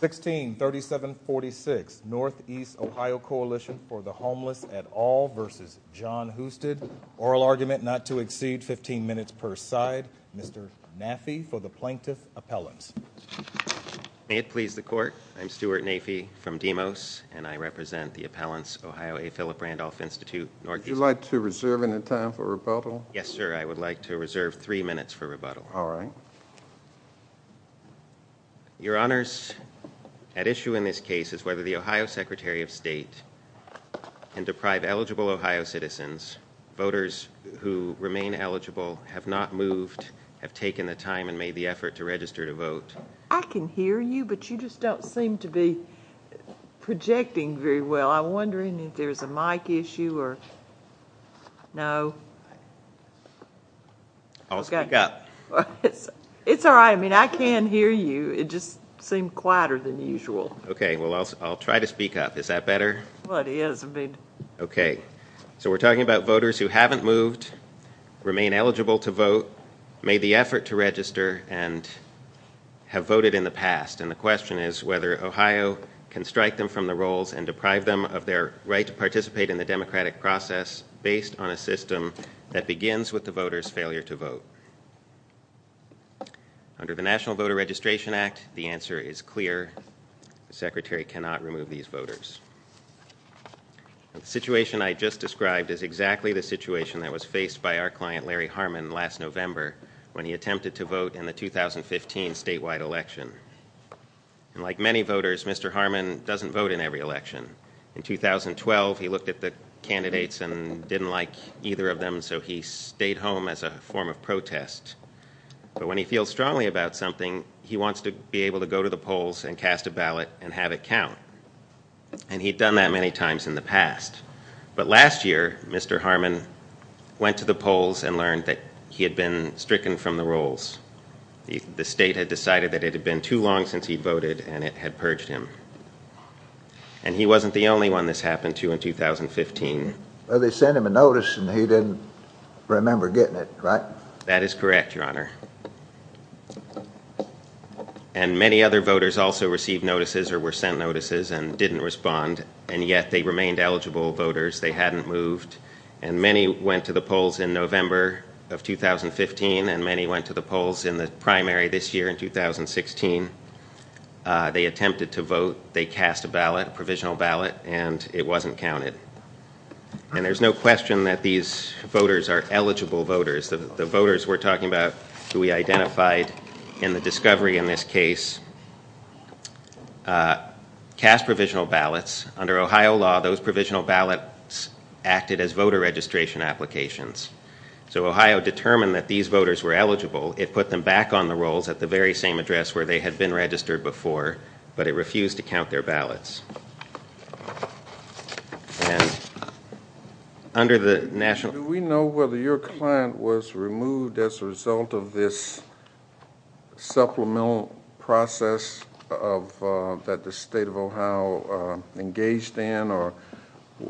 163746 Northeast Ohio Coalition for the Homeless at All versus Jon Husted. Oral argument not to exceed 15 minutes per side. Mr. Nafee for the Plaintiff Appellants. May it please the court. I'm Stuart Nafee from Demos and I represent the Appellants Ohio A Philip Randolph Institute. Would you like to reserve any time for rebuttal? Yes, sir. I would like to reserve three minutes for rebuttal. All right. Your Honors, at issue in this case is whether the Ohio Secretary of State can deprive eligible Ohio citizens, voters who remain eligible, have not moved, have taken the time and made the effort to register to vote. I can hear you, but you just don't seem to be projecting very well. I'm wondering if there's a mic issue or no. I'll speak up. It's all right. I mean, I can hear you. It just seemed quieter than usual. Okay. Well, I'll try to speak up. Is that better? It is. Okay. So we're talking about voters who haven't moved, remain eligible to vote, made the effort to register, and have voted in the past. And the question is whether Ohio can strike them from the rolls and deprive them of their right to participate in the democratic process based on a system that begins with the voter's failure to vote. Under the National Voter Registration Act, the answer is clear. The Secretary cannot remove these voters. The situation I just described is exactly the situation that was faced by our client Larry Harmon last November when he attempted to vote in the 2015 statewide election. And like many voters, Mr. Harmon doesn't vote in every election. In 2012, he looked at the candidates and didn't like either of them, so he stayed home as a form of protest. But when he feels strongly about something, he wants to be able to go to the polls and cast a ballot and have it count. And he'd done that many times in the past. But last year, Mr. Harmon went to the polls and learned that he had been stricken from the rolls. The state had decided that it had been too long since he'd voted, and it had purged him. And he wasn't the only one this happened to in 2015. Well, they sent him a notice, and he didn't remember getting it, right? That is correct, Your Honor. And many other voters also received notices or were sent notices and didn't respond, and yet they remained eligible voters. They hadn't moved. And many went to the polls in November of 2015, and many went to the polls in the primary this year in 2016. They attempted to vote. They cast a ballot, a provisional ballot, and it wasn't counted. And there's no question that these voters are eligible voters. The voters we're talking about who we identified in the discovery in this case cast provisional ballots. Under Ohio law, those provisional ballots acted as voter registration applications. So Ohio determined that these voters were eligible. It put them back on the rolls at the very same address where they had been registered before, but it refused to count their ballots. And under the national... or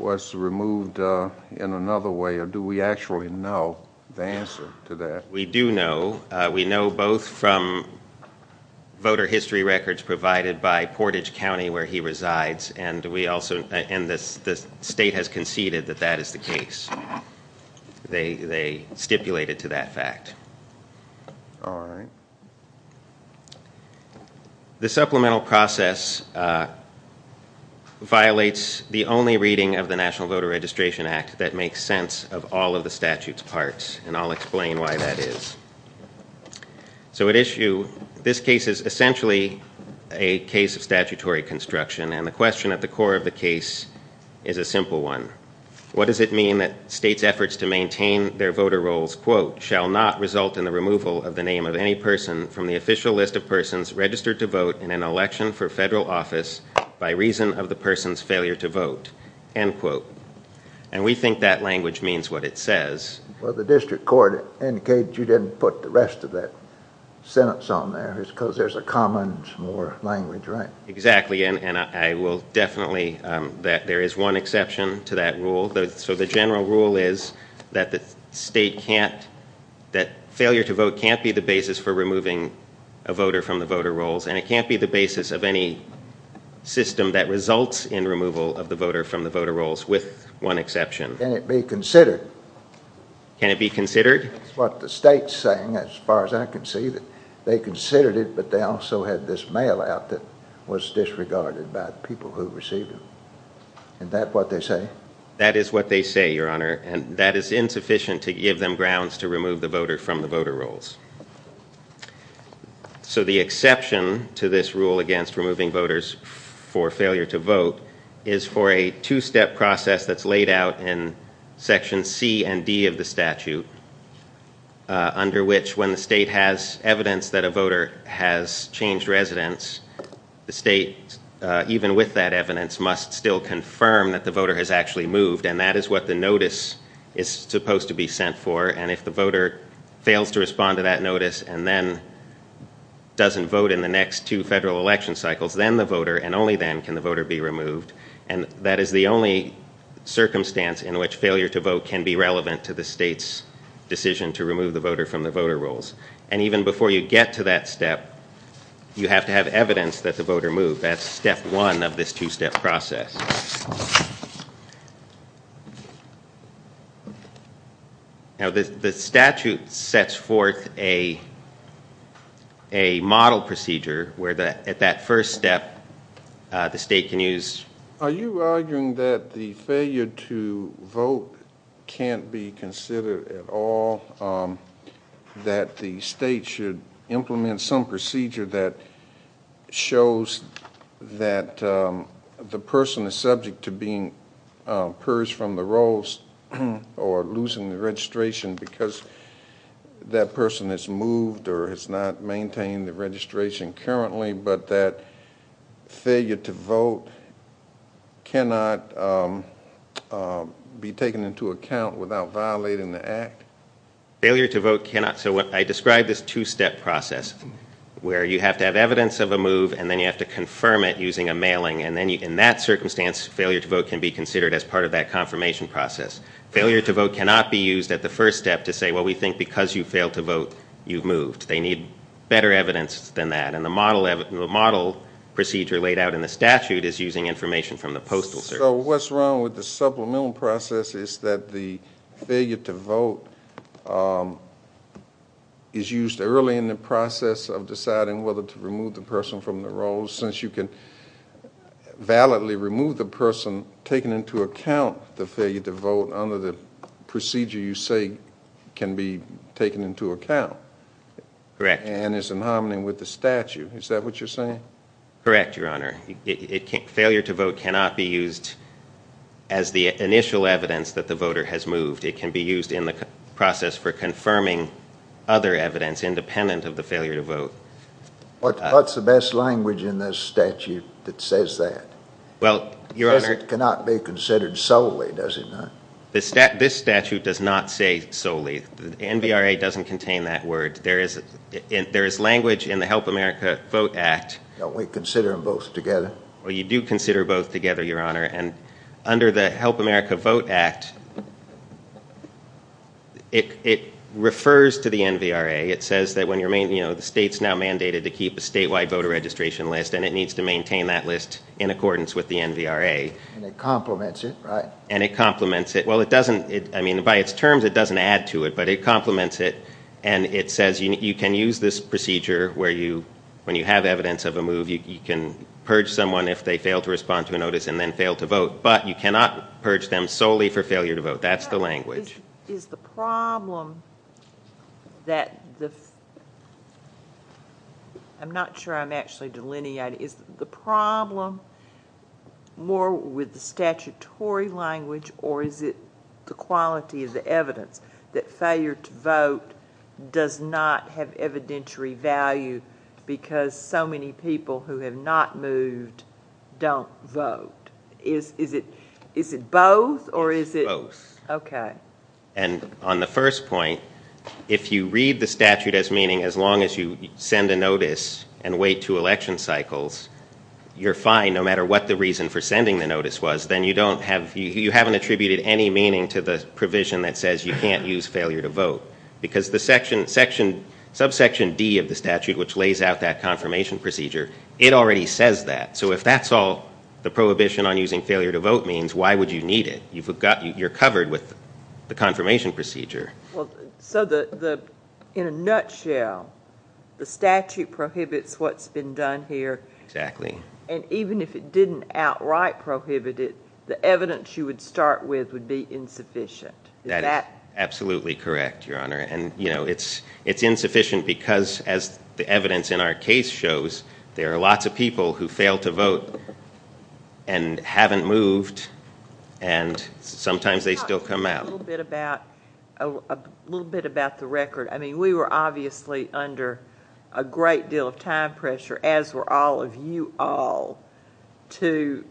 was removed in another way, or do we actually know the answer to that? We do know. We know both from voter history records provided by Portage County, where he resides, and the state has conceded that that is the case. They stipulated to that fact. All right. The supplemental process violates the only reading of the National Voter Registration Act that makes sense of all of the statute's parts, and I'll explain why that is. So at issue, this case is essentially a case of statutory construction, and the question at the core of the case is a simple one. What does it mean that states' efforts to maintain their voter rolls, quote, shall not result in the removal of the name of any person from the official list of persons registered to vote in an election for federal office by reason of the person's failure to vote, end quote? And we think that language means what it says. Well, the district court indicated you didn't put the rest of that sentence on there. It's because there's a common more language, right? Exactly, and I will definitely... there is one exception to that rule. So the general rule is that the state can't... that failure to vote can't be the basis for removing a voter from the voter rolls, and it can't be the basis of any system that results in removal of the voter from the voter rolls with one exception. Can it be considered? Can it be considered? That's what the state's saying as far as I can see, that they considered it, but they also had this mail out that was disregarded by the people who received it. And that what they say? That is what they say, Your Honor, and that is insufficient to give them grounds to remove the voter from the voter rolls. So the exception to this rule against removing voters for failure to vote is for a two-step process that's laid out in Section C and D of the statute, under which when the state has evidence that a voter has changed residence, the state, even with that evidence, must still confirm that the voter has actually moved, and that is what the notice is supposed to be sent for, and if the voter fails to respond to that notice and then doesn't vote in the next two federal election cycles, then the voter, and only then can the voter be removed, and that is the only circumstance in which failure to vote can be relevant to the state's decision to remove the voter from the voter rolls. And even before you get to that step, you have to have evidence that the voter moved. That's step one of this two-step process. Now the statute sets forth a model procedure where at that first step the state can use... Are you arguing that the failure to vote can't be considered at all, that the state should implement some procedure that shows that the person is subject to being purged from the rolls or losing the registration because that person has moved or has not maintained the registration currently, but that failure to vote cannot be taken into account without violating the act? Failure to vote cannot... So I described this two-step process where you have to have evidence of a move and then you have to confirm it using a mailing, and then in that circumstance failure to vote can be considered as part of that confirmation process. Failure to vote cannot be used at the first step to say, well, we think because you failed to vote you've moved. They need better evidence than that, and the model procedure laid out in the statute is using information from the postal service. So what's wrong with the supplemental process is that the failure to vote is used early in the process of deciding whether to remove the person from the rolls since you can validly remove the person taking into account the failure to vote under the procedure you say can be taken into account. Correct. And it's in harmony with the statute. Is that what you're saying? Correct, Your Honor. Failure to vote cannot be used as the initial evidence that the voter has moved. It can be used in the process for confirming other evidence independent of the failure to vote. What's the best language in this statute that says that? Well, Your Honor... Because it cannot be considered solely, does it not? This statute does not say solely. The NVRA doesn't contain that word. There is language in the Help America Vote Act... Don't we consider them both together? Well, you do consider both together, Your Honor, and under the Help America Vote Act it refers to the NVRA. It says that the state's now mandated to keep a statewide voter registration list and it needs to maintain that list in accordance with the NVRA. And it complements it, right? And it complements it. Well, by its terms it doesn't add to it, but it complements it, and it says you can use this procedure where you, when you have evidence of a move, you can purge someone if they fail to respond to a notice and then fail to vote, but you cannot purge them solely for failure to vote. That's the language. Is the problem that the... I'm not sure I'm actually delineating. Is the problem more with the statutory language or is it the quality of the evidence that failure to vote does not have evidentiary value because so many people who have not moved don't vote? Is it both or is it... Both. Okay. And on the first point, if you read the statute as meaning as long as you send a notice and wait two election cycles, you're fine no matter what the reason for sending the notice was. Then you don't have... You haven't attributed any meaning to the provision that says you can't use failure to vote because the subsection D of the statute, which lays out that confirmation procedure, it already says that. So if that's all the prohibition on using failure to vote means, why would you need it? You've got... You're covered with the confirmation procedure. Well, so the... In a nutshell, the statute prohibits what's been done here. Exactly. And even if it didn't outright prohibit it, the evidence you would start with would be insufficient. Is that... That is absolutely correct, Your Honor. And, you know, it's insufficient because as the evidence in our case shows, there are lots of people who fail to vote and haven't moved and sometimes they still come out. Can you talk a little bit about the record? I mean, we were obviously under a great deal of time pressure, as were all of you all, to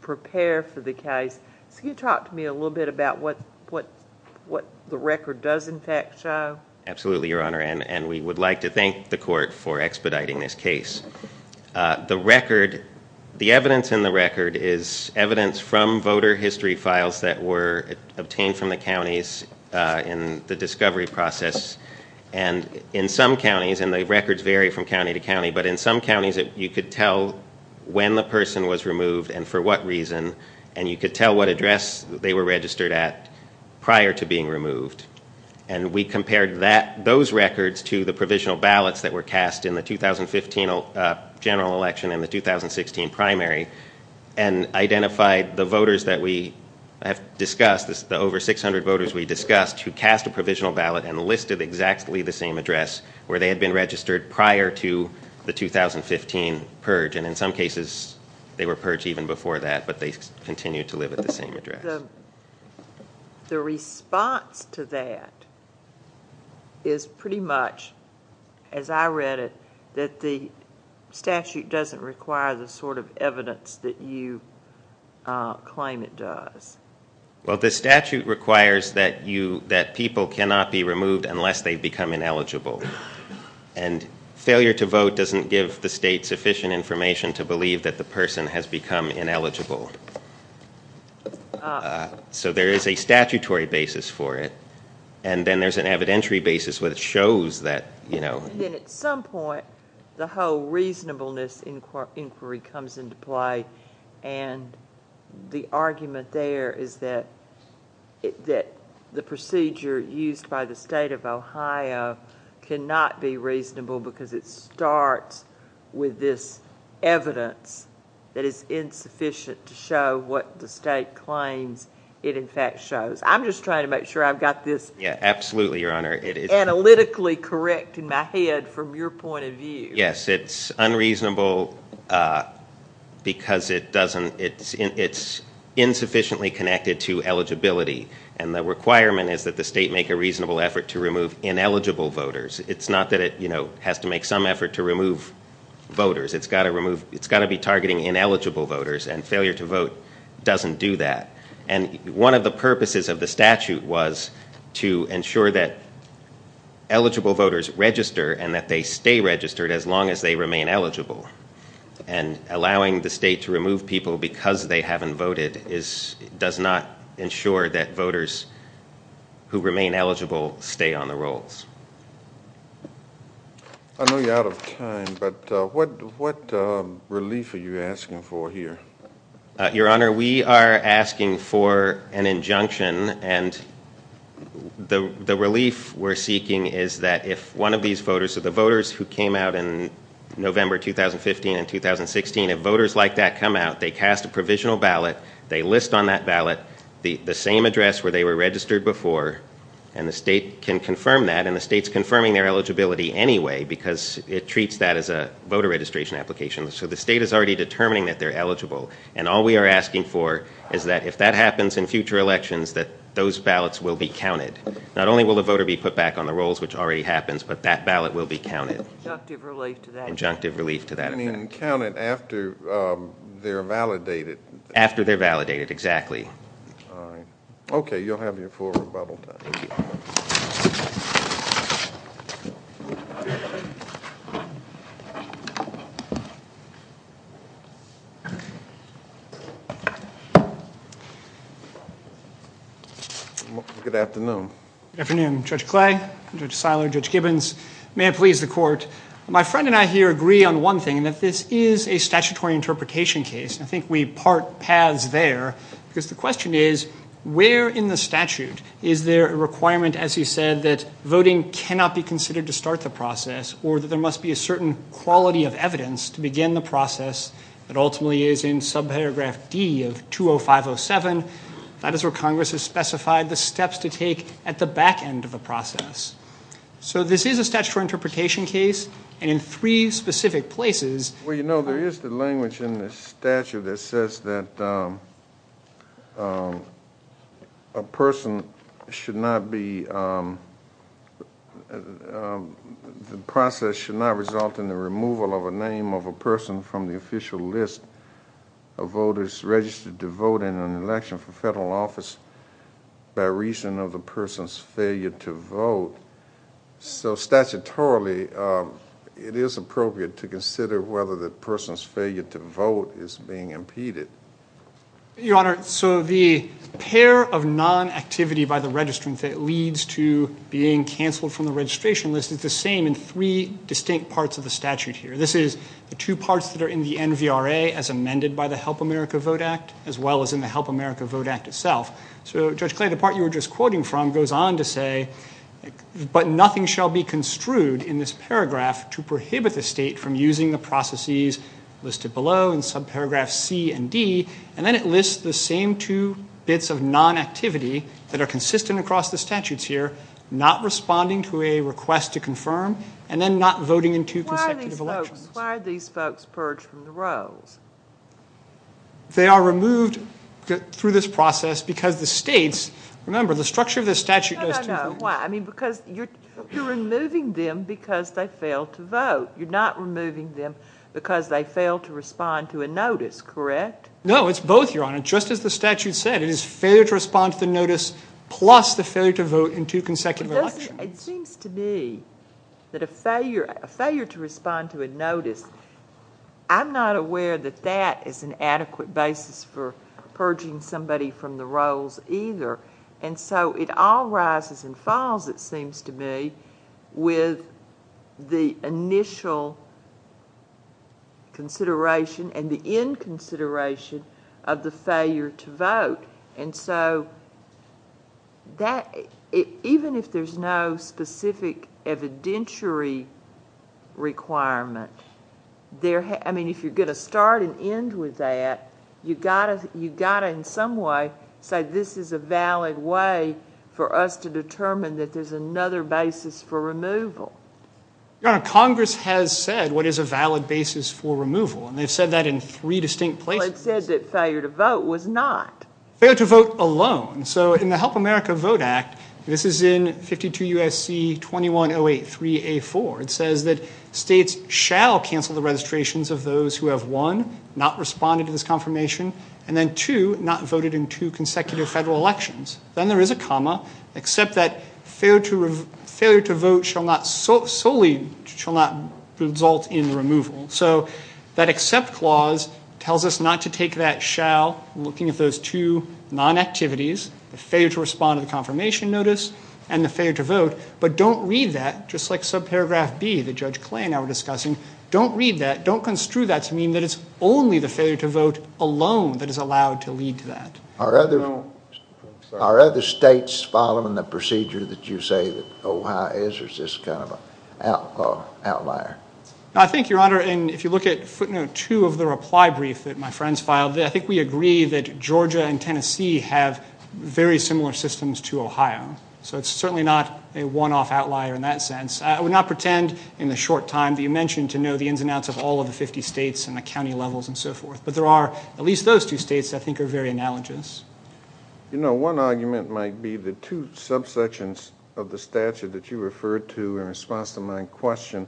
prepare for the case. So can you talk to me a little bit about what the record does in fact show? Absolutely, Your Honor, and we would like to thank the court for expediting this case. The record... The evidence in the record is evidence from voter history files that were obtained from the counties in the discovery process. But in some counties you could tell when the person was removed and for what reason, and you could tell what address they were registered at prior to being removed. And we compared those records to the provisional ballots that were cast in the 2015 general election and the 2016 primary and identified the voters that we have discussed, the over 600 voters we discussed, who cast a provisional ballot and listed exactly the same address where they had been registered prior to the 2015 purge. And in some cases they were purged even before that, but they continued to live at the same address. The response to that is pretty much, as I read it, that the statute doesn't require the sort of evidence that you claim it does. Well, the statute requires that people cannot be removed unless they become ineligible, and failure to vote doesn't give the state sufficient information to believe that the person has become ineligible. So there is a statutory basis for it, and then there's an evidentiary basis where it shows that, you know... And then at some point the whole reasonableness inquiry comes into play and the argument there is that the procedure used by the state of Ohio cannot be reasonable because it starts with this evidence that is insufficient to show what the state claims it in fact shows. I'm just trying to make sure I've got this analytically correct in my head from your point of view. Yes, it's unreasonable because it's insufficiently connected to eligibility, and the requirement is that the state make a reasonable effort to remove ineligible voters. It's not that it has to make some effort to remove voters. It's got to be targeting ineligible voters, and failure to vote doesn't do that. And one of the purposes of the statute was to ensure that eligible voters register and that they stay registered as long as they remain eligible. And allowing the state to remove people because they haven't voted does not ensure that voters who remain eligible stay on the rolls. I know you're out of time, but what relief are you asking for here? The relief we're seeking is that if one of these voters, so the voters who came out in November 2015 and 2016, if voters like that come out, they cast a provisional ballot, they list on that ballot the same address where they were registered before, and the state can confirm that, and the state's confirming their eligibility anyway because it treats that as a voter registration application. So the state is already determining that they're eligible, and all we are asking for is that if that happens in future elections, that those ballots will be counted. Not only will the voter be put back on the rolls, which already happens, but that ballot will be counted. Adjunctive relief to that. Adjunctive relief to that effect. You mean counted after they're validated. After they're validated, exactly. Okay, you'll have your full rebuttal time. Thank you. Good afternoon. Good afternoon, Judge Clay, Judge Seiler, Judge Gibbons. May it please the court. My friend and I here agree on one thing, and that this is a statutory interpretation case, and I think we part paths there because the question is, where in the statute is there a requirement, as you said, that voting cannot be considered to start the process or that there must be a certain quality of evidence to begin the process that ultimately is in subparagraph D of 20507. That is where Congress has specified the steps to take at the back end of the process. So this is a statutory interpretation case, and in three specific places. Well, you know, there is the language in the statute that says that a person should not be, the process should not result in the removal of a name of a person from the official list of voters registered to vote in an election for federal office by reason of the person's failure to vote. So statutorily, it is appropriate to consider whether the person's failure to vote is being impeded. Your Honor, so the pair of non-activity by the registrant that leads to being canceled from the registration list is the same in three distinct parts of the statute here. This is the two parts that are in the NVRA as amended by the Help America Vote Act, as well as in the Help America Vote Act itself. So, Judge Clay, the part you were just quoting from goes on to say, but nothing shall be construed in this paragraph to prohibit the state from using the processes listed below in subparagraphs C and D, and then it lists the same two bits of non-activity that are consistent across the statutes here, not responding to a request to confirm, and then not voting in two consecutive elections. Why are these folks purged from the rolls? They are removed through this process because the states, remember, the structure of the statute does conclude. No, no, no. Why? I mean, because you're removing them because they failed to vote. You're not removing them because they failed to respond to a notice, correct? No, it's both, Your Honor. Just as the statute said, it is failure to respond to the notice plus the failure to vote in two consecutive elections. It seems to me that a failure to respond to a notice, I'm not aware that that is an adequate basis for purging somebody from the rolls either, and so it all rises and falls, it seems to me, with the initial consideration and the inconsideration of the failure to vote, and so even if there's no specific evidentiary requirement, I mean, if you're going to start and end with that, you've got to in some way say this is a valid way for us to determine that there's another basis for removal. Your Honor, Congress has said what is a valid basis for removal, and they've said that in three distinct places. Well, it said that failure to vote was not. Failure to vote alone. So in the Help America Vote Act, this is in 52 U.S.C. 21083A4. It says that states shall cancel the registrations of those who have won, not responded to this confirmation, and then two, not voted in two consecutive federal elections. Then there is a comma, except that failure to vote shall not solely result in removal. So that except clause tells us not to take that shall, looking at those two non-activities, the failure to respond to the confirmation notice and the failure to vote, but don't read that just like subparagraph B that Judge Clay and I were discussing. Don't read that. Don't construe that to mean that it's only the failure to vote alone that is allowed to lead to that. Are other states following the procedure that you say that Ohio is, or is this kind of an outlier? I think, Your Honor, and if you look at footnote two of the reply brief that my friends filed, I think we agree that Georgia and Tennessee have very similar systems to Ohio. So it's certainly not a one-off outlier in that sense. I would not pretend in the short time that you mentioned to know the ins and outs of all of the 50 states and the county levels and so forth, but there are at least those two states I think are very analogous. You know, one argument might be the two subsections of the statute that you referred to in response to my question,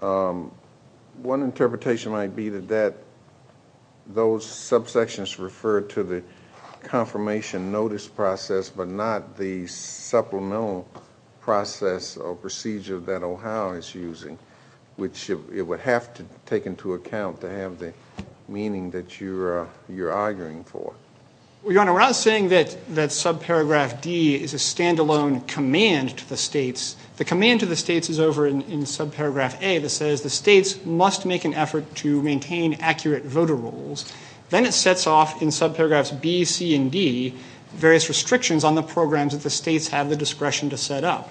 one interpretation might be that those subsections refer to the confirmation notice process but not the supplemental process or procedure that Ohio is using, which it would have to take into account to have the meaning that you're arguing for. Well, Your Honor, we're not saying that subparagraph D is a stand-alone command to the states. The command to the states is over in subparagraph A that says the states must make an effort to maintain accurate voter rolls. Then it sets off in subparagraphs B, C, and D various restrictions on the programs that the states have the discretion to set up.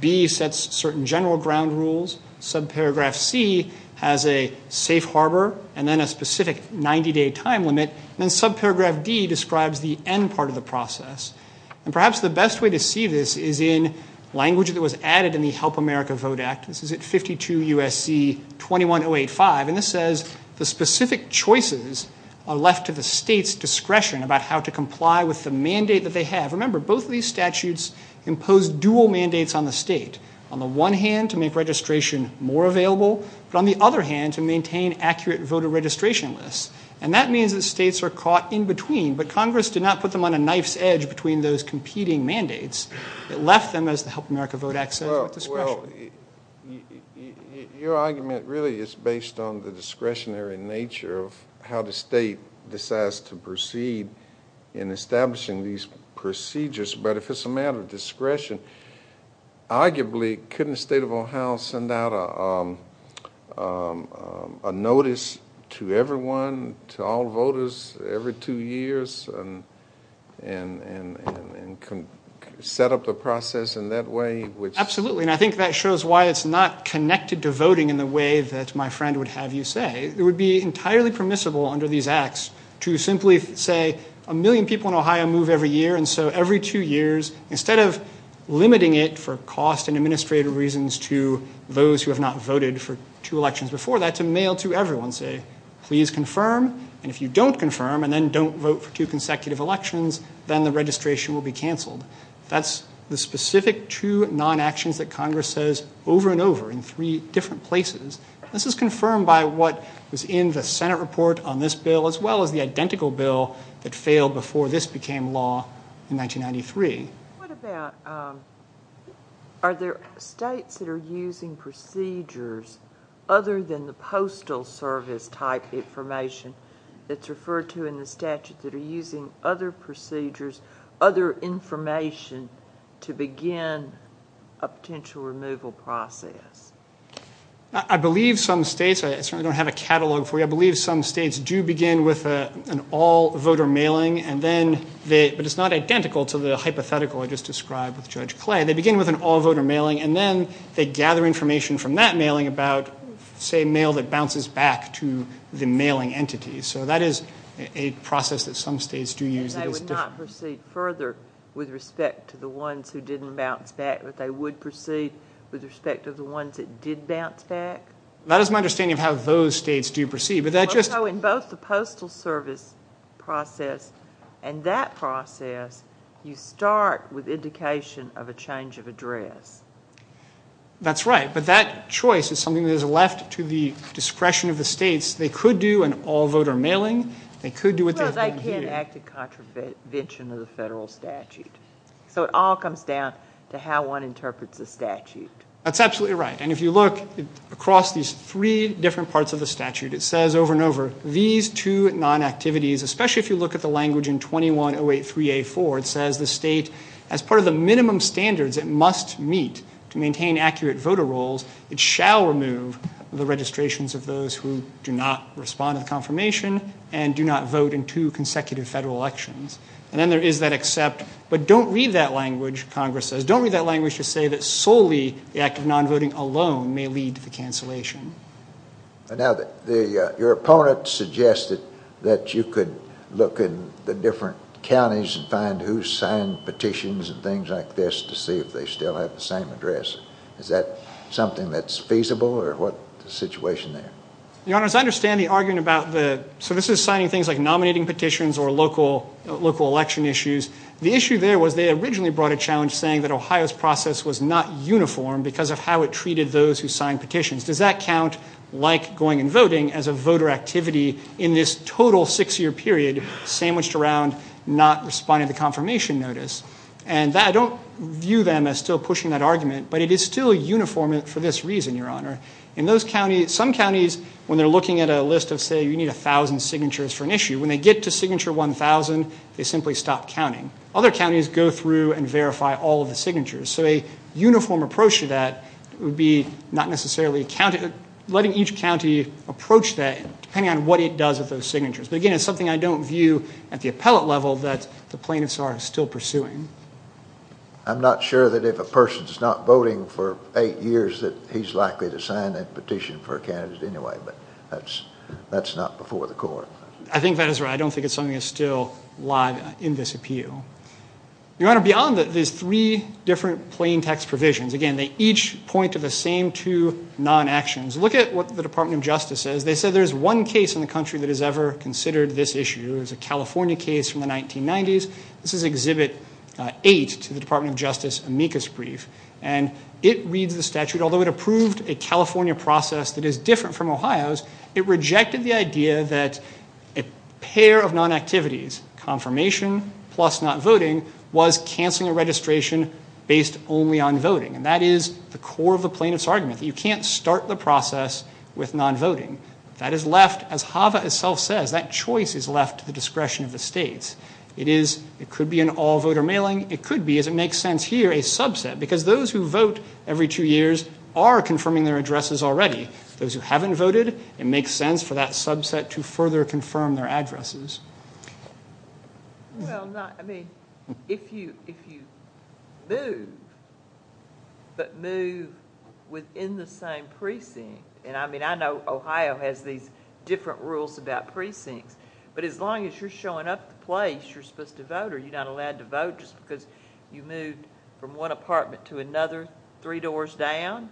B sets certain general ground rules. Subparagraph C has a safe harbor and then a specific 90-day time limit. And then subparagraph D describes the end part of the process. And perhaps the best way to see this is in language that was added in the Help America Vote Act. This is at 52 U.S.C. 21085. And this says the specific choices are left to the states' discretion about how to comply with the mandate that they have. Remember, both of these statutes impose dual mandates on the state. On the one hand, to make registration more available, but on the other hand, to maintain accurate voter registration lists. And that means that states are caught in between, but Congress did not put them on a knife's edge between those competing mandates. It left them, as the Help America Vote Act says, with discretion. Well, your argument really is based on the discretionary nature of how the state decides to proceed in establishing these procedures. But if it's a matter of discretion, arguably, couldn't the state of Ohio send out a notice to everyone, to all voters, every two years, and set up the process in that way? Absolutely. And I think that shows why it's not connected to voting in the way that my friend would have you say. It would be entirely permissible under these acts to simply say, a million people in Ohio move every year, and so every two years, instead of limiting it for cost and administrative reasons to those who have not voted for two elections before that, to mail to everyone, say, please confirm, and if you don't confirm, and then don't vote for two consecutive elections, then the registration will be canceled. That's the specific two non-actions that Congress says over and over in three different places. This is confirmed by what was in the Senate report on this bill, as well as the identical bill that failed before this became law in 1993. What about, are there states that are using procedures other than the postal service type information that's referred to in the statute, that are using other procedures, other information, to begin a potential removal process? I believe some states, I certainly don't have a catalog for you, I believe some states do begin with an all-voter mailing, but it's not identical to the hypothetical I just described with Judge Clay. They begin with an all-voter mailing, and then they gather information from that mailing about, say, mail that bounces back to the mailing entity. So that is a process that some states do use. So they would not proceed further with respect to the ones who didn't bounce back, but they would proceed with respect to the ones that did bounce back? That is my understanding of how those states do proceed. So in both the postal service process and that process, you start with indication of a change of address. That's right, but that choice is something that is left to the discretion of the states. They could do an all-voter mailing. They could do what they've done here. Well, as I can, act in contravention of the federal statute. So it all comes down to how one interprets the statute. That's absolutely right, and if you look across these three different parts of the statute, it says over and over, these two non-activities, especially if you look at the language in 21083A4, it says the state, as part of the minimum standards it must meet to maintain accurate voter rolls, it shall remove the registrations of those who do not respond to the confirmation and do not vote in two consecutive federal elections. And then there is that except, but don't read that language, Congress says. Don't read that language to say that solely the act of non-voting alone may lead to the cancellation. Now, your opponent suggested that you could look in the different counties and find who signed petitions and things like this to see if they still have the same address. Is that something that's feasible, or what's the situation there? Your Honors, I understand the argument about the, so this is signing things like nominating petitions or local election issues. The issue there was they originally brought a challenge saying that Ohio's process was not uniform because of how it treated those who signed petitions. Does that count like going and voting as a voter activity in this total six-year period sandwiched around not responding to confirmation notice? And that, I don't view them as still pushing that argument, but it is still uniform for this reason, Your Honor. In those counties, some counties, when they're looking at a list of, say, you need 1,000 signatures for an issue, when they get to signature 1,000, they simply stop counting. Other counties go through and verify all of the signatures. So a uniform approach to that would be not necessarily counting, letting each county approach that depending on what it does with those signatures. But, again, it's something I don't view at the appellate level that the plaintiffs are still pursuing. I'm not sure that if a person's not voting for eight years that he's likely to sign that petition for a candidate anyway, but that's not before the court. I think that is right. I don't think it's something that's still live in this appeal. Your Honor, beyond that, there's three different plain text provisions. Again, they each point to the same two non-actions. Look at what the Department of Justice says. They say there's one case in the country that has ever considered this issue. It was a California case from the 1990s. This is Exhibit 8 to the Department of Justice amicus brief, and it reads the statute. Although it approved a California process that is different from Ohio's, it rejected the idea that a pair of non-activities, confirmation plus not voting, was canceling a registration based only on voting. And that is the core of the plaintiff's argument, that you can't start the process with non-voting. That is left, as HAVA itself says, that choice is left to the discretion of the states. It could be an all-voter mailing. It could be, as it makes sense here, a subset, because those who vote every two years are confirming their addresses already. Those who haven't voted, it makes sense for that subset to further confirm their addresses. Well, I mean, if you move, but move within the same precinct, and I mean, I know Ohio has these different rules about precincts, but as long as you're showing up at the place you're supposed to vote, are you not allowed to vote just because you moved from one apartment to another three doors down?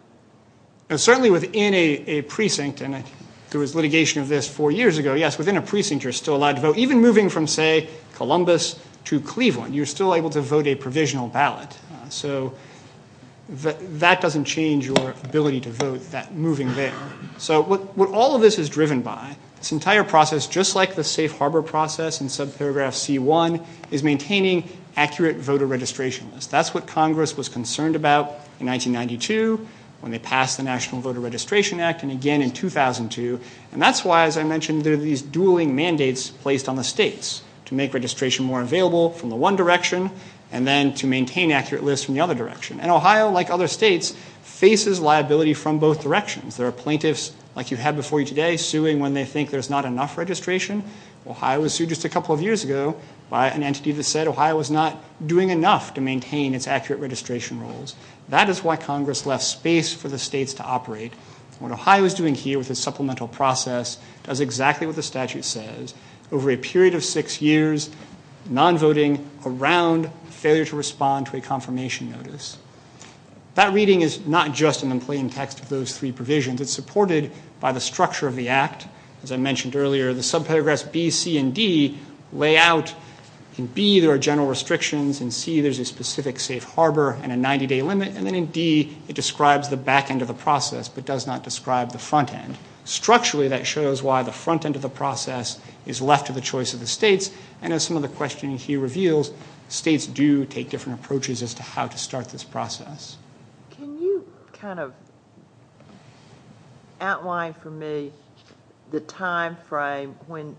Certainly within a precinct, and there was litigation of this four years ago, yes, within a precinct you're still allowed to vote. Even moving from, say, Columbus to Cleveland, you're still able to vote a provisional ballot. So that doesn't change your ability to vote, that moving there. So what all of this is driven by, this entire process, just like the safe harbor process in subparagraph C1, is maintaining accurate voter registration lists. That's what Congress was concerned about in 1992 when they passed the National Voter Registration Act, and again in 2002, and that's why, as I mentioned, there are these dueling mandates placed on the states to make registration more available from the one direction, and then to maintain accurate lists from the other direction. And Ohio, like other states, faces liability from both directions. There are plaintiffs, like you had before you today, suing when they think there's not enough registration. Ohio was sued just a couple of years ago by an entity that said Ohio was not doing enough to maintain its accurate registration rules. That is why Congress left space for the states to operate. What Ohio is doing here with its supplemental process does exactly what the statute says. Over a period of six years, non-voting around failure to respond to a confirmation notice. That reading is not just in the plain text of those three provisions. It's supported by the structure of the act. As I mentioned earlier, the subparagraphs B, C, and D lay out in B there are general restrictions, in C there's a specific safe harbor and a 90-day limit, and then in D it describes the back end of the process but does not describe the front end. Structurally, that shows why the front end of the process is left to the choice of the states, and as some of the questioning here reveals, states do take different approaches as to how to start this process. Can you kind of outline for me the time frame when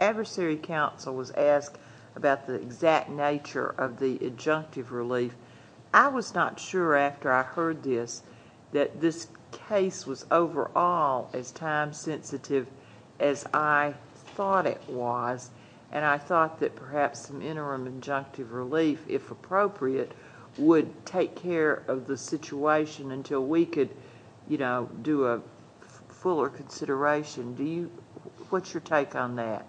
adversary counsel was asked about the exact nature of the adjunctive relief? I was not sure after I heard this that this case was overall as time sensitive as I thought it was, and I thought that perhaps some interim adjunctive relief, if appropriate, would take care of the situation until we could do a fuller consideration. What's your take on that?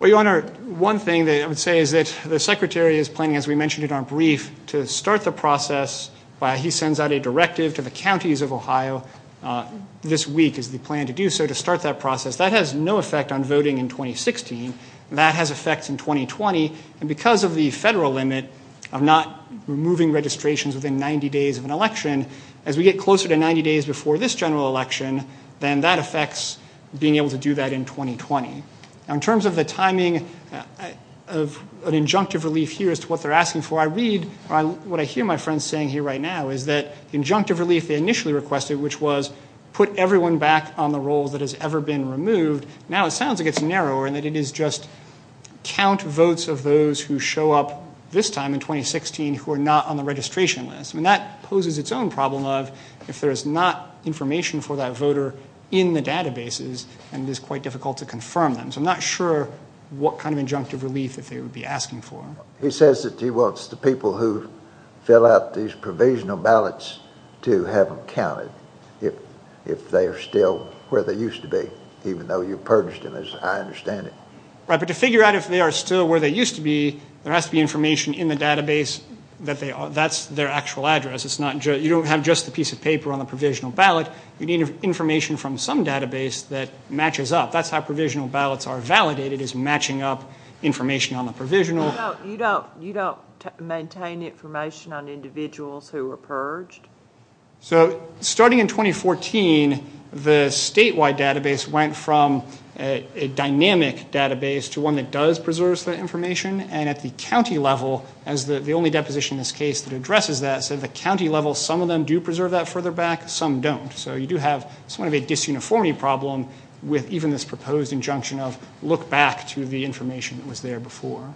Well, Your Honor, one thing that I would say is that the Secretary is planning, as we mentioned in our brief, to start the process by he sends out a directive to the counties of Ohio this week is the plan to do so to start that process. That has no effect on voting in 2016. That has effects in 2020, and because of the federal limit of not removing registrations within 90 days of an election, as we get closer to 90 days before this general election, then that affects being able to do that in 2020. In terms of the timing of an adjunctive relief here as to what they're asking for, I read what I hear my friends saying here right now is that the adjunctive relief they initially requested, which was put everyone back on the roll that has ever been removed, now it sounds like it's narrower and that it is just count votes of those who show up this time in 2016 who are not on the registration list. And that poses its own problem of if there is not information for that voter in the databases, and it is quite difficult to confirm them. So I'm not sure what kind of adjunctive relief that they would be asking for. He says that he wants the people who fill out these provisional ballots to have them counted if they are still where they used to be, even though you purged them, as I understand it. Right, but to figure out if they are still where they used to be, there has to be information in the database that's their actual address. You don't have just the piece of paper on the provisional ballot. You need information from some database that matches up. That's how provisional ballots are validated is matching up information on the provisional. You don't maintain information on individuals who were purged? So starting in 2014, the statewide database went from a dynamic database to one that does preserve the information, and at the county level, as the only deposition in this case that addresses that, so at the county level some of them do preserve that further back, some don't. So you do have somewhat of a disuniformity problem with even this proposed injunction of look back to the information that was there before.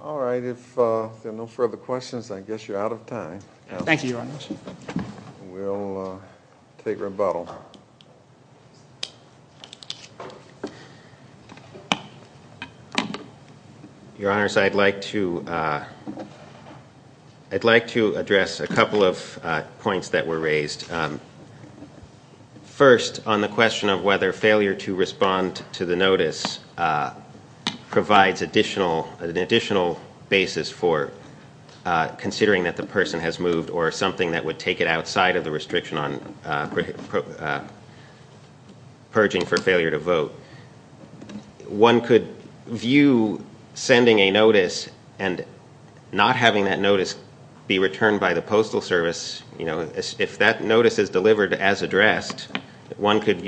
All right. If there are no further questions, I guess you're out of time. Thank you, Your Honor. We'll take rebuttal. Your Honors, I'd like to address a couple of points that were raised. First, on the question of whether failure to respond to the notice provides an additional basis for considering that the person has moved or something that would take it outside of the restriction on purging for failure to vote, one could view sending a notice and not having that notice be returned by the Postal Service, if that notice is delivered as addressed, one could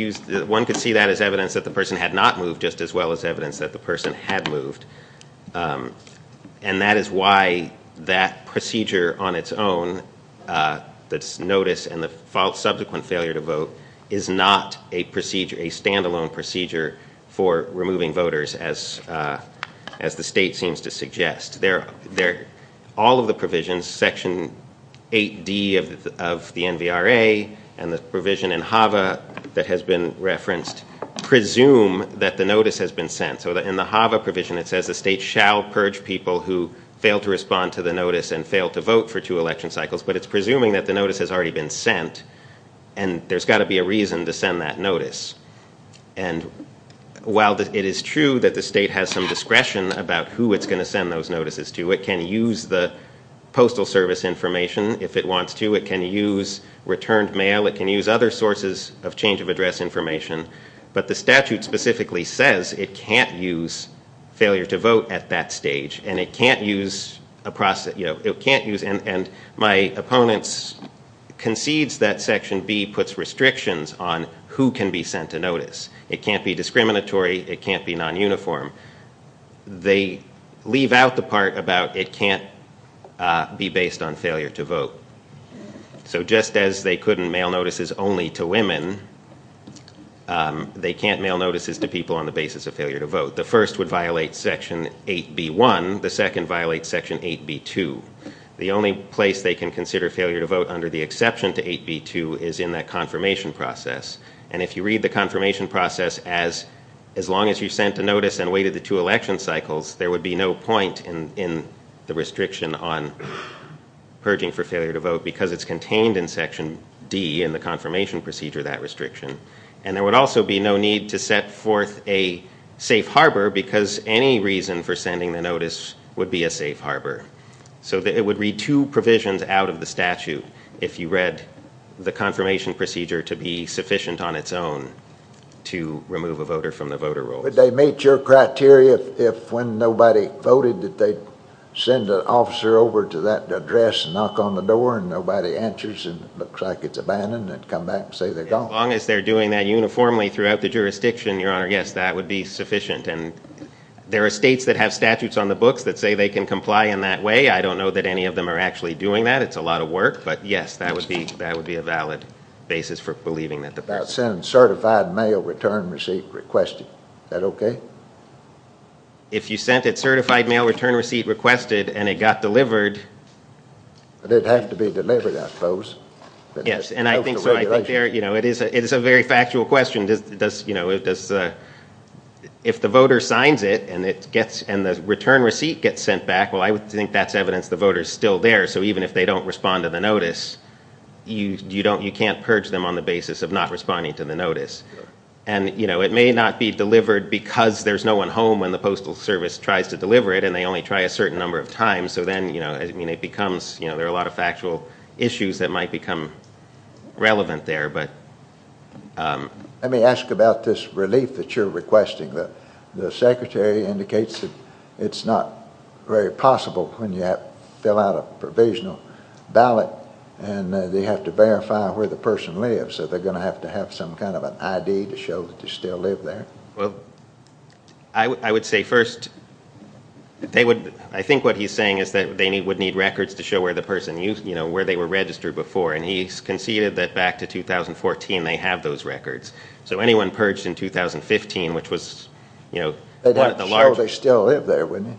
see that as evidence that the person had not moved just as well as evidence that the person had moved. And that is why that procedure on its own, that notice and the subsequent failure to vote, is not a stand-alone procedure for removing voters, as the state seems to suggest. All of the provisions, Section 8D of the NVRA and the provision in HAVA that has been referenced, presume that the notice has been sent. So in the HAVA provision, it says the state shall purge people who fail to respond to the notice and fail to vote for two election cycles, but it's presuming that the notice has already been sent, and there's got to be a reason to send that notice. And while it is true that the state has some discretion about who it's going to send those notices to, it can use the Postal Service information if it wants to. It can use returned mail. It can use other sources of change of address information. But the statute specifically says it can't use failure to vote at that stage, and it can't use a process, and my opponents concedes that Section B puts restrictions on who can be sent a notice. It can't be discriminatory. It can't be non-uniform. They leave out the part about it can't be based on failure to vote. So just as they couldn't mail notices only to women, they can't mail notices to people on the basis of failure to vote. The first would violate Section 8B.1. The second violates Section 8B.2. The only place they can consider failure to vote under the exception to 8B.2 is in that confirmation process. And if you read the confirmation process as long as you sent a notice and waited the two election cycles, there would be no point in the restriction on purging for failure to vote because it's contained in Section D in the confirmation procedure, that restriction. And there would also be no need to set forth a safe harbor because any reason for sending the notice would be a safe harbor. So it would read two provisions out of the statute if you read the confirmation procedure to be sufficient on its own to remove a voter from the voter rolls. Would they meet your criteria if when nobody voted that they'd send an officer over to that address and knock on the door and nobody answers and it looks like it's abandoned and come back and say they're gone? As long as they're doing that uniformly throughout the jurisdiction, Your Honor, yes, that would be sufficient. And there are states that have statutes on the books that say they can comply in that way. I don't know that any of them are actually doing that. It's a lot of work. But yes, that would be a valid basis for believing that the person... You're talking about sending certified mail return receipt requested. Is that okay? If you sent it certified mail return receipt requested and it got delivered... It'd have to be delivered, I suppose. Yes, and I think so. It is a very factual question. If the voter signs it and the return receipt gets sent back, well, I would think that's evidence the voter's still there. So even if they don't respond to the notice, you can't purge them on the basis of not responding to the notice. And it may not be delivered because there's no one home when the Postal Service tries to deliver it and they only try a certain number of times. So then it becomes... There are a lot of factual issues that might become relevant there. Let me ask about this relief that you're requesting. The secretary indicates that it's not very possible when you fill out a provisional ballot and they have to verify where the person lives. Are they going to have to have some kind of an ID to show that they still live there? Well, I would say first... I think what he's saying is that they would need records to show where the person used... where they were registered before, and he's conceded that back to 2014 they have those records. So anyone purged in 2015, which was... They'd have to show they still live there, wouldn't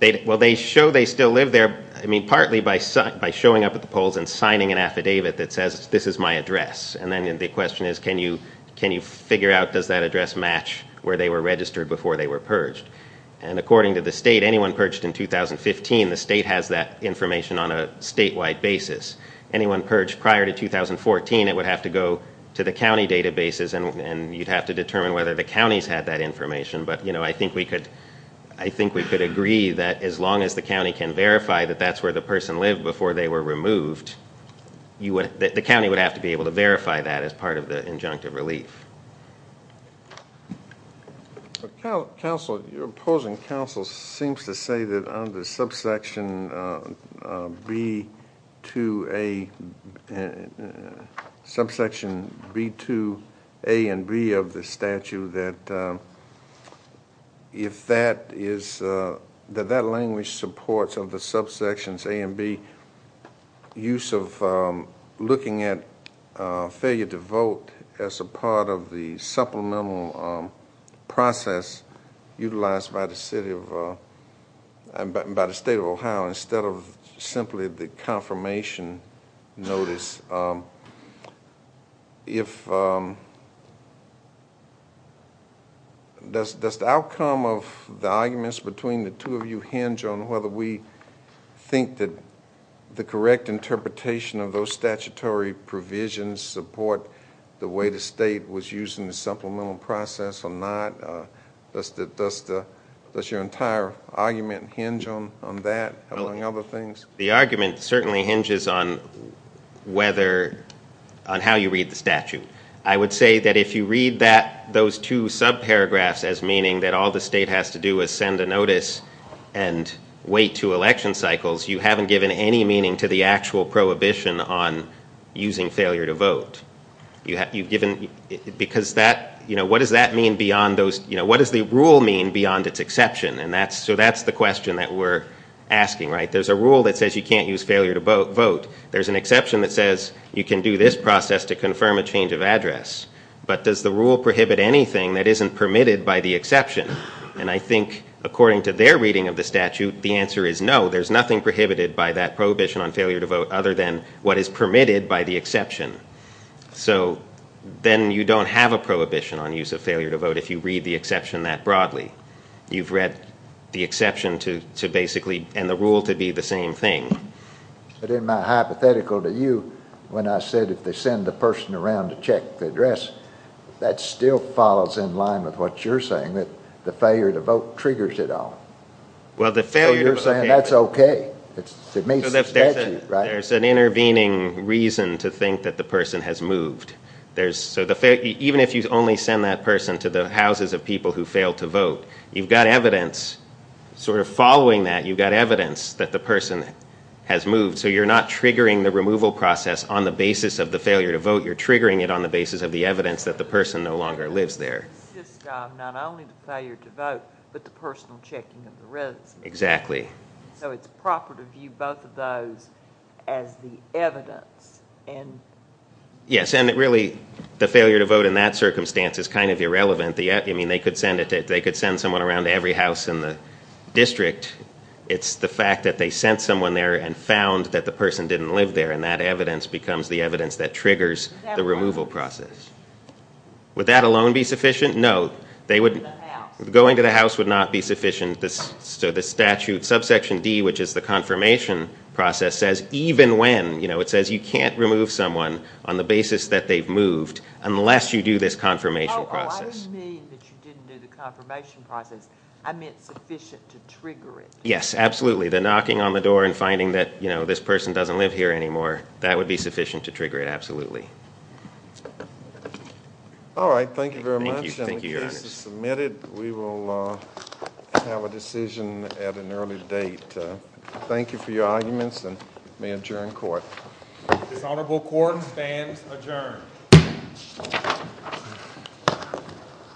they? Well, they show they still live there, I mean, partly by showing up at the polls and signing an affidavit that says, this is my address, and then the question is, can you figure out, does that address match where they were registered before they were purged? And according to the state, anyone purged in 2015, the state has that information on a statewide basis. Anyone purged prior to 2014, it would have to go to the county databases and you'd have to determine whether the counties had that information. But, you know, I think we could agree that as long as the county can verify that that's where the person lived before they were removed, the county would have to be able to verify that as part of the injunctive relief. Counsel, your opposing counsel seems to say that on the subsection B2A... subsection B2A and B of the statute that if that is... that that language supports of the subsections A and B, use of looking at failure to vote as a part of the supplemental process utilized by the state of Ohio instead of simply the confirmation notice. If... does the outcome of the arguments between the two of you hinge on whether we think that the correct interpretation of those statutory provisions support the way the state was using the supplemental process or not? Does your entire argument hinge on that, among other things? The argument certainly hinges on whether... on how you read the statute. I would say that if you read that... those two subparagraphs as meaning that all the state has to do is send a notice and wait two election cycles, you haven't given any meaning to the actual prohibition on using failure to vote. You've given... because that... you know, what does that mean beyond those... you know, what does the rule mean beyond its exception? And that's... so that's the question that we're asking, right? There's a rule that says you can't use failure to vote. There's an exception that says you can do this process to confirm a change of address. But does the rule prohibit anything that isn't permitted by the exception? And I think, according to their reading of the statute, the answer is no, there's nothing prohibited by that prohibition on failure to vote other than what is permitted by the exception. So then you don't have a prohibition on use of failure to vote if you read the exception that broadly. You've read the exception to basically... it's basically the same thing. But in my hypothetical to you, when I said if they send the person around to check the address, that still follows in line with what you're saying, that the failure to vote triggers it all. Well, the failure to vote... So you're saying that's okay. It meets the statute, right? There's an intervening reason to think that the person has moved. There's... so the... even if you only send that person to the houses of people who failed to vote, you've got evidence, sort of following that, you've got evidence that the person has moved. So you're not triggering the removal process on the basis of the failure to vote, you're triggering it on the basis of the evidence that the person no longer lives there. It's just not only the failure to vote, but the personal checking of the residence. Exactly. So it's proper to view both of those as the evidence. And... Yes, and it really... the failure to vote in that circumstance is kind of irrelevant. I mean, they could send someone around to every house in the district. It's the fact that they sent someone there and found that the person didn't live there, and that evidence becomes the evidence that triggers the removal process. Would that alone be sufficient? No, they would... Going to the house. Going to the house would not be sufficient. So the statute, subsection D, which is the confirmation process, says, even when, you know, it says you can't remove someone on the basis that they've moved unless you do this confirmation process. Oh, I didn't mean that you didn't do the confirmation process. I meant sufficient to trigger it. Yes, absolutely. The knocking on the door and finding that, you know, this person doesn't live here anymore, that would be sufficient to trigger it, absolutely. All right, thank you very much. Thank you, thank you, Your Honor. And the case is submitted. We will have a decision at an early date. Thank you for your arguments, and may I adjourn court. This honorable court stands adjourned. Thank you.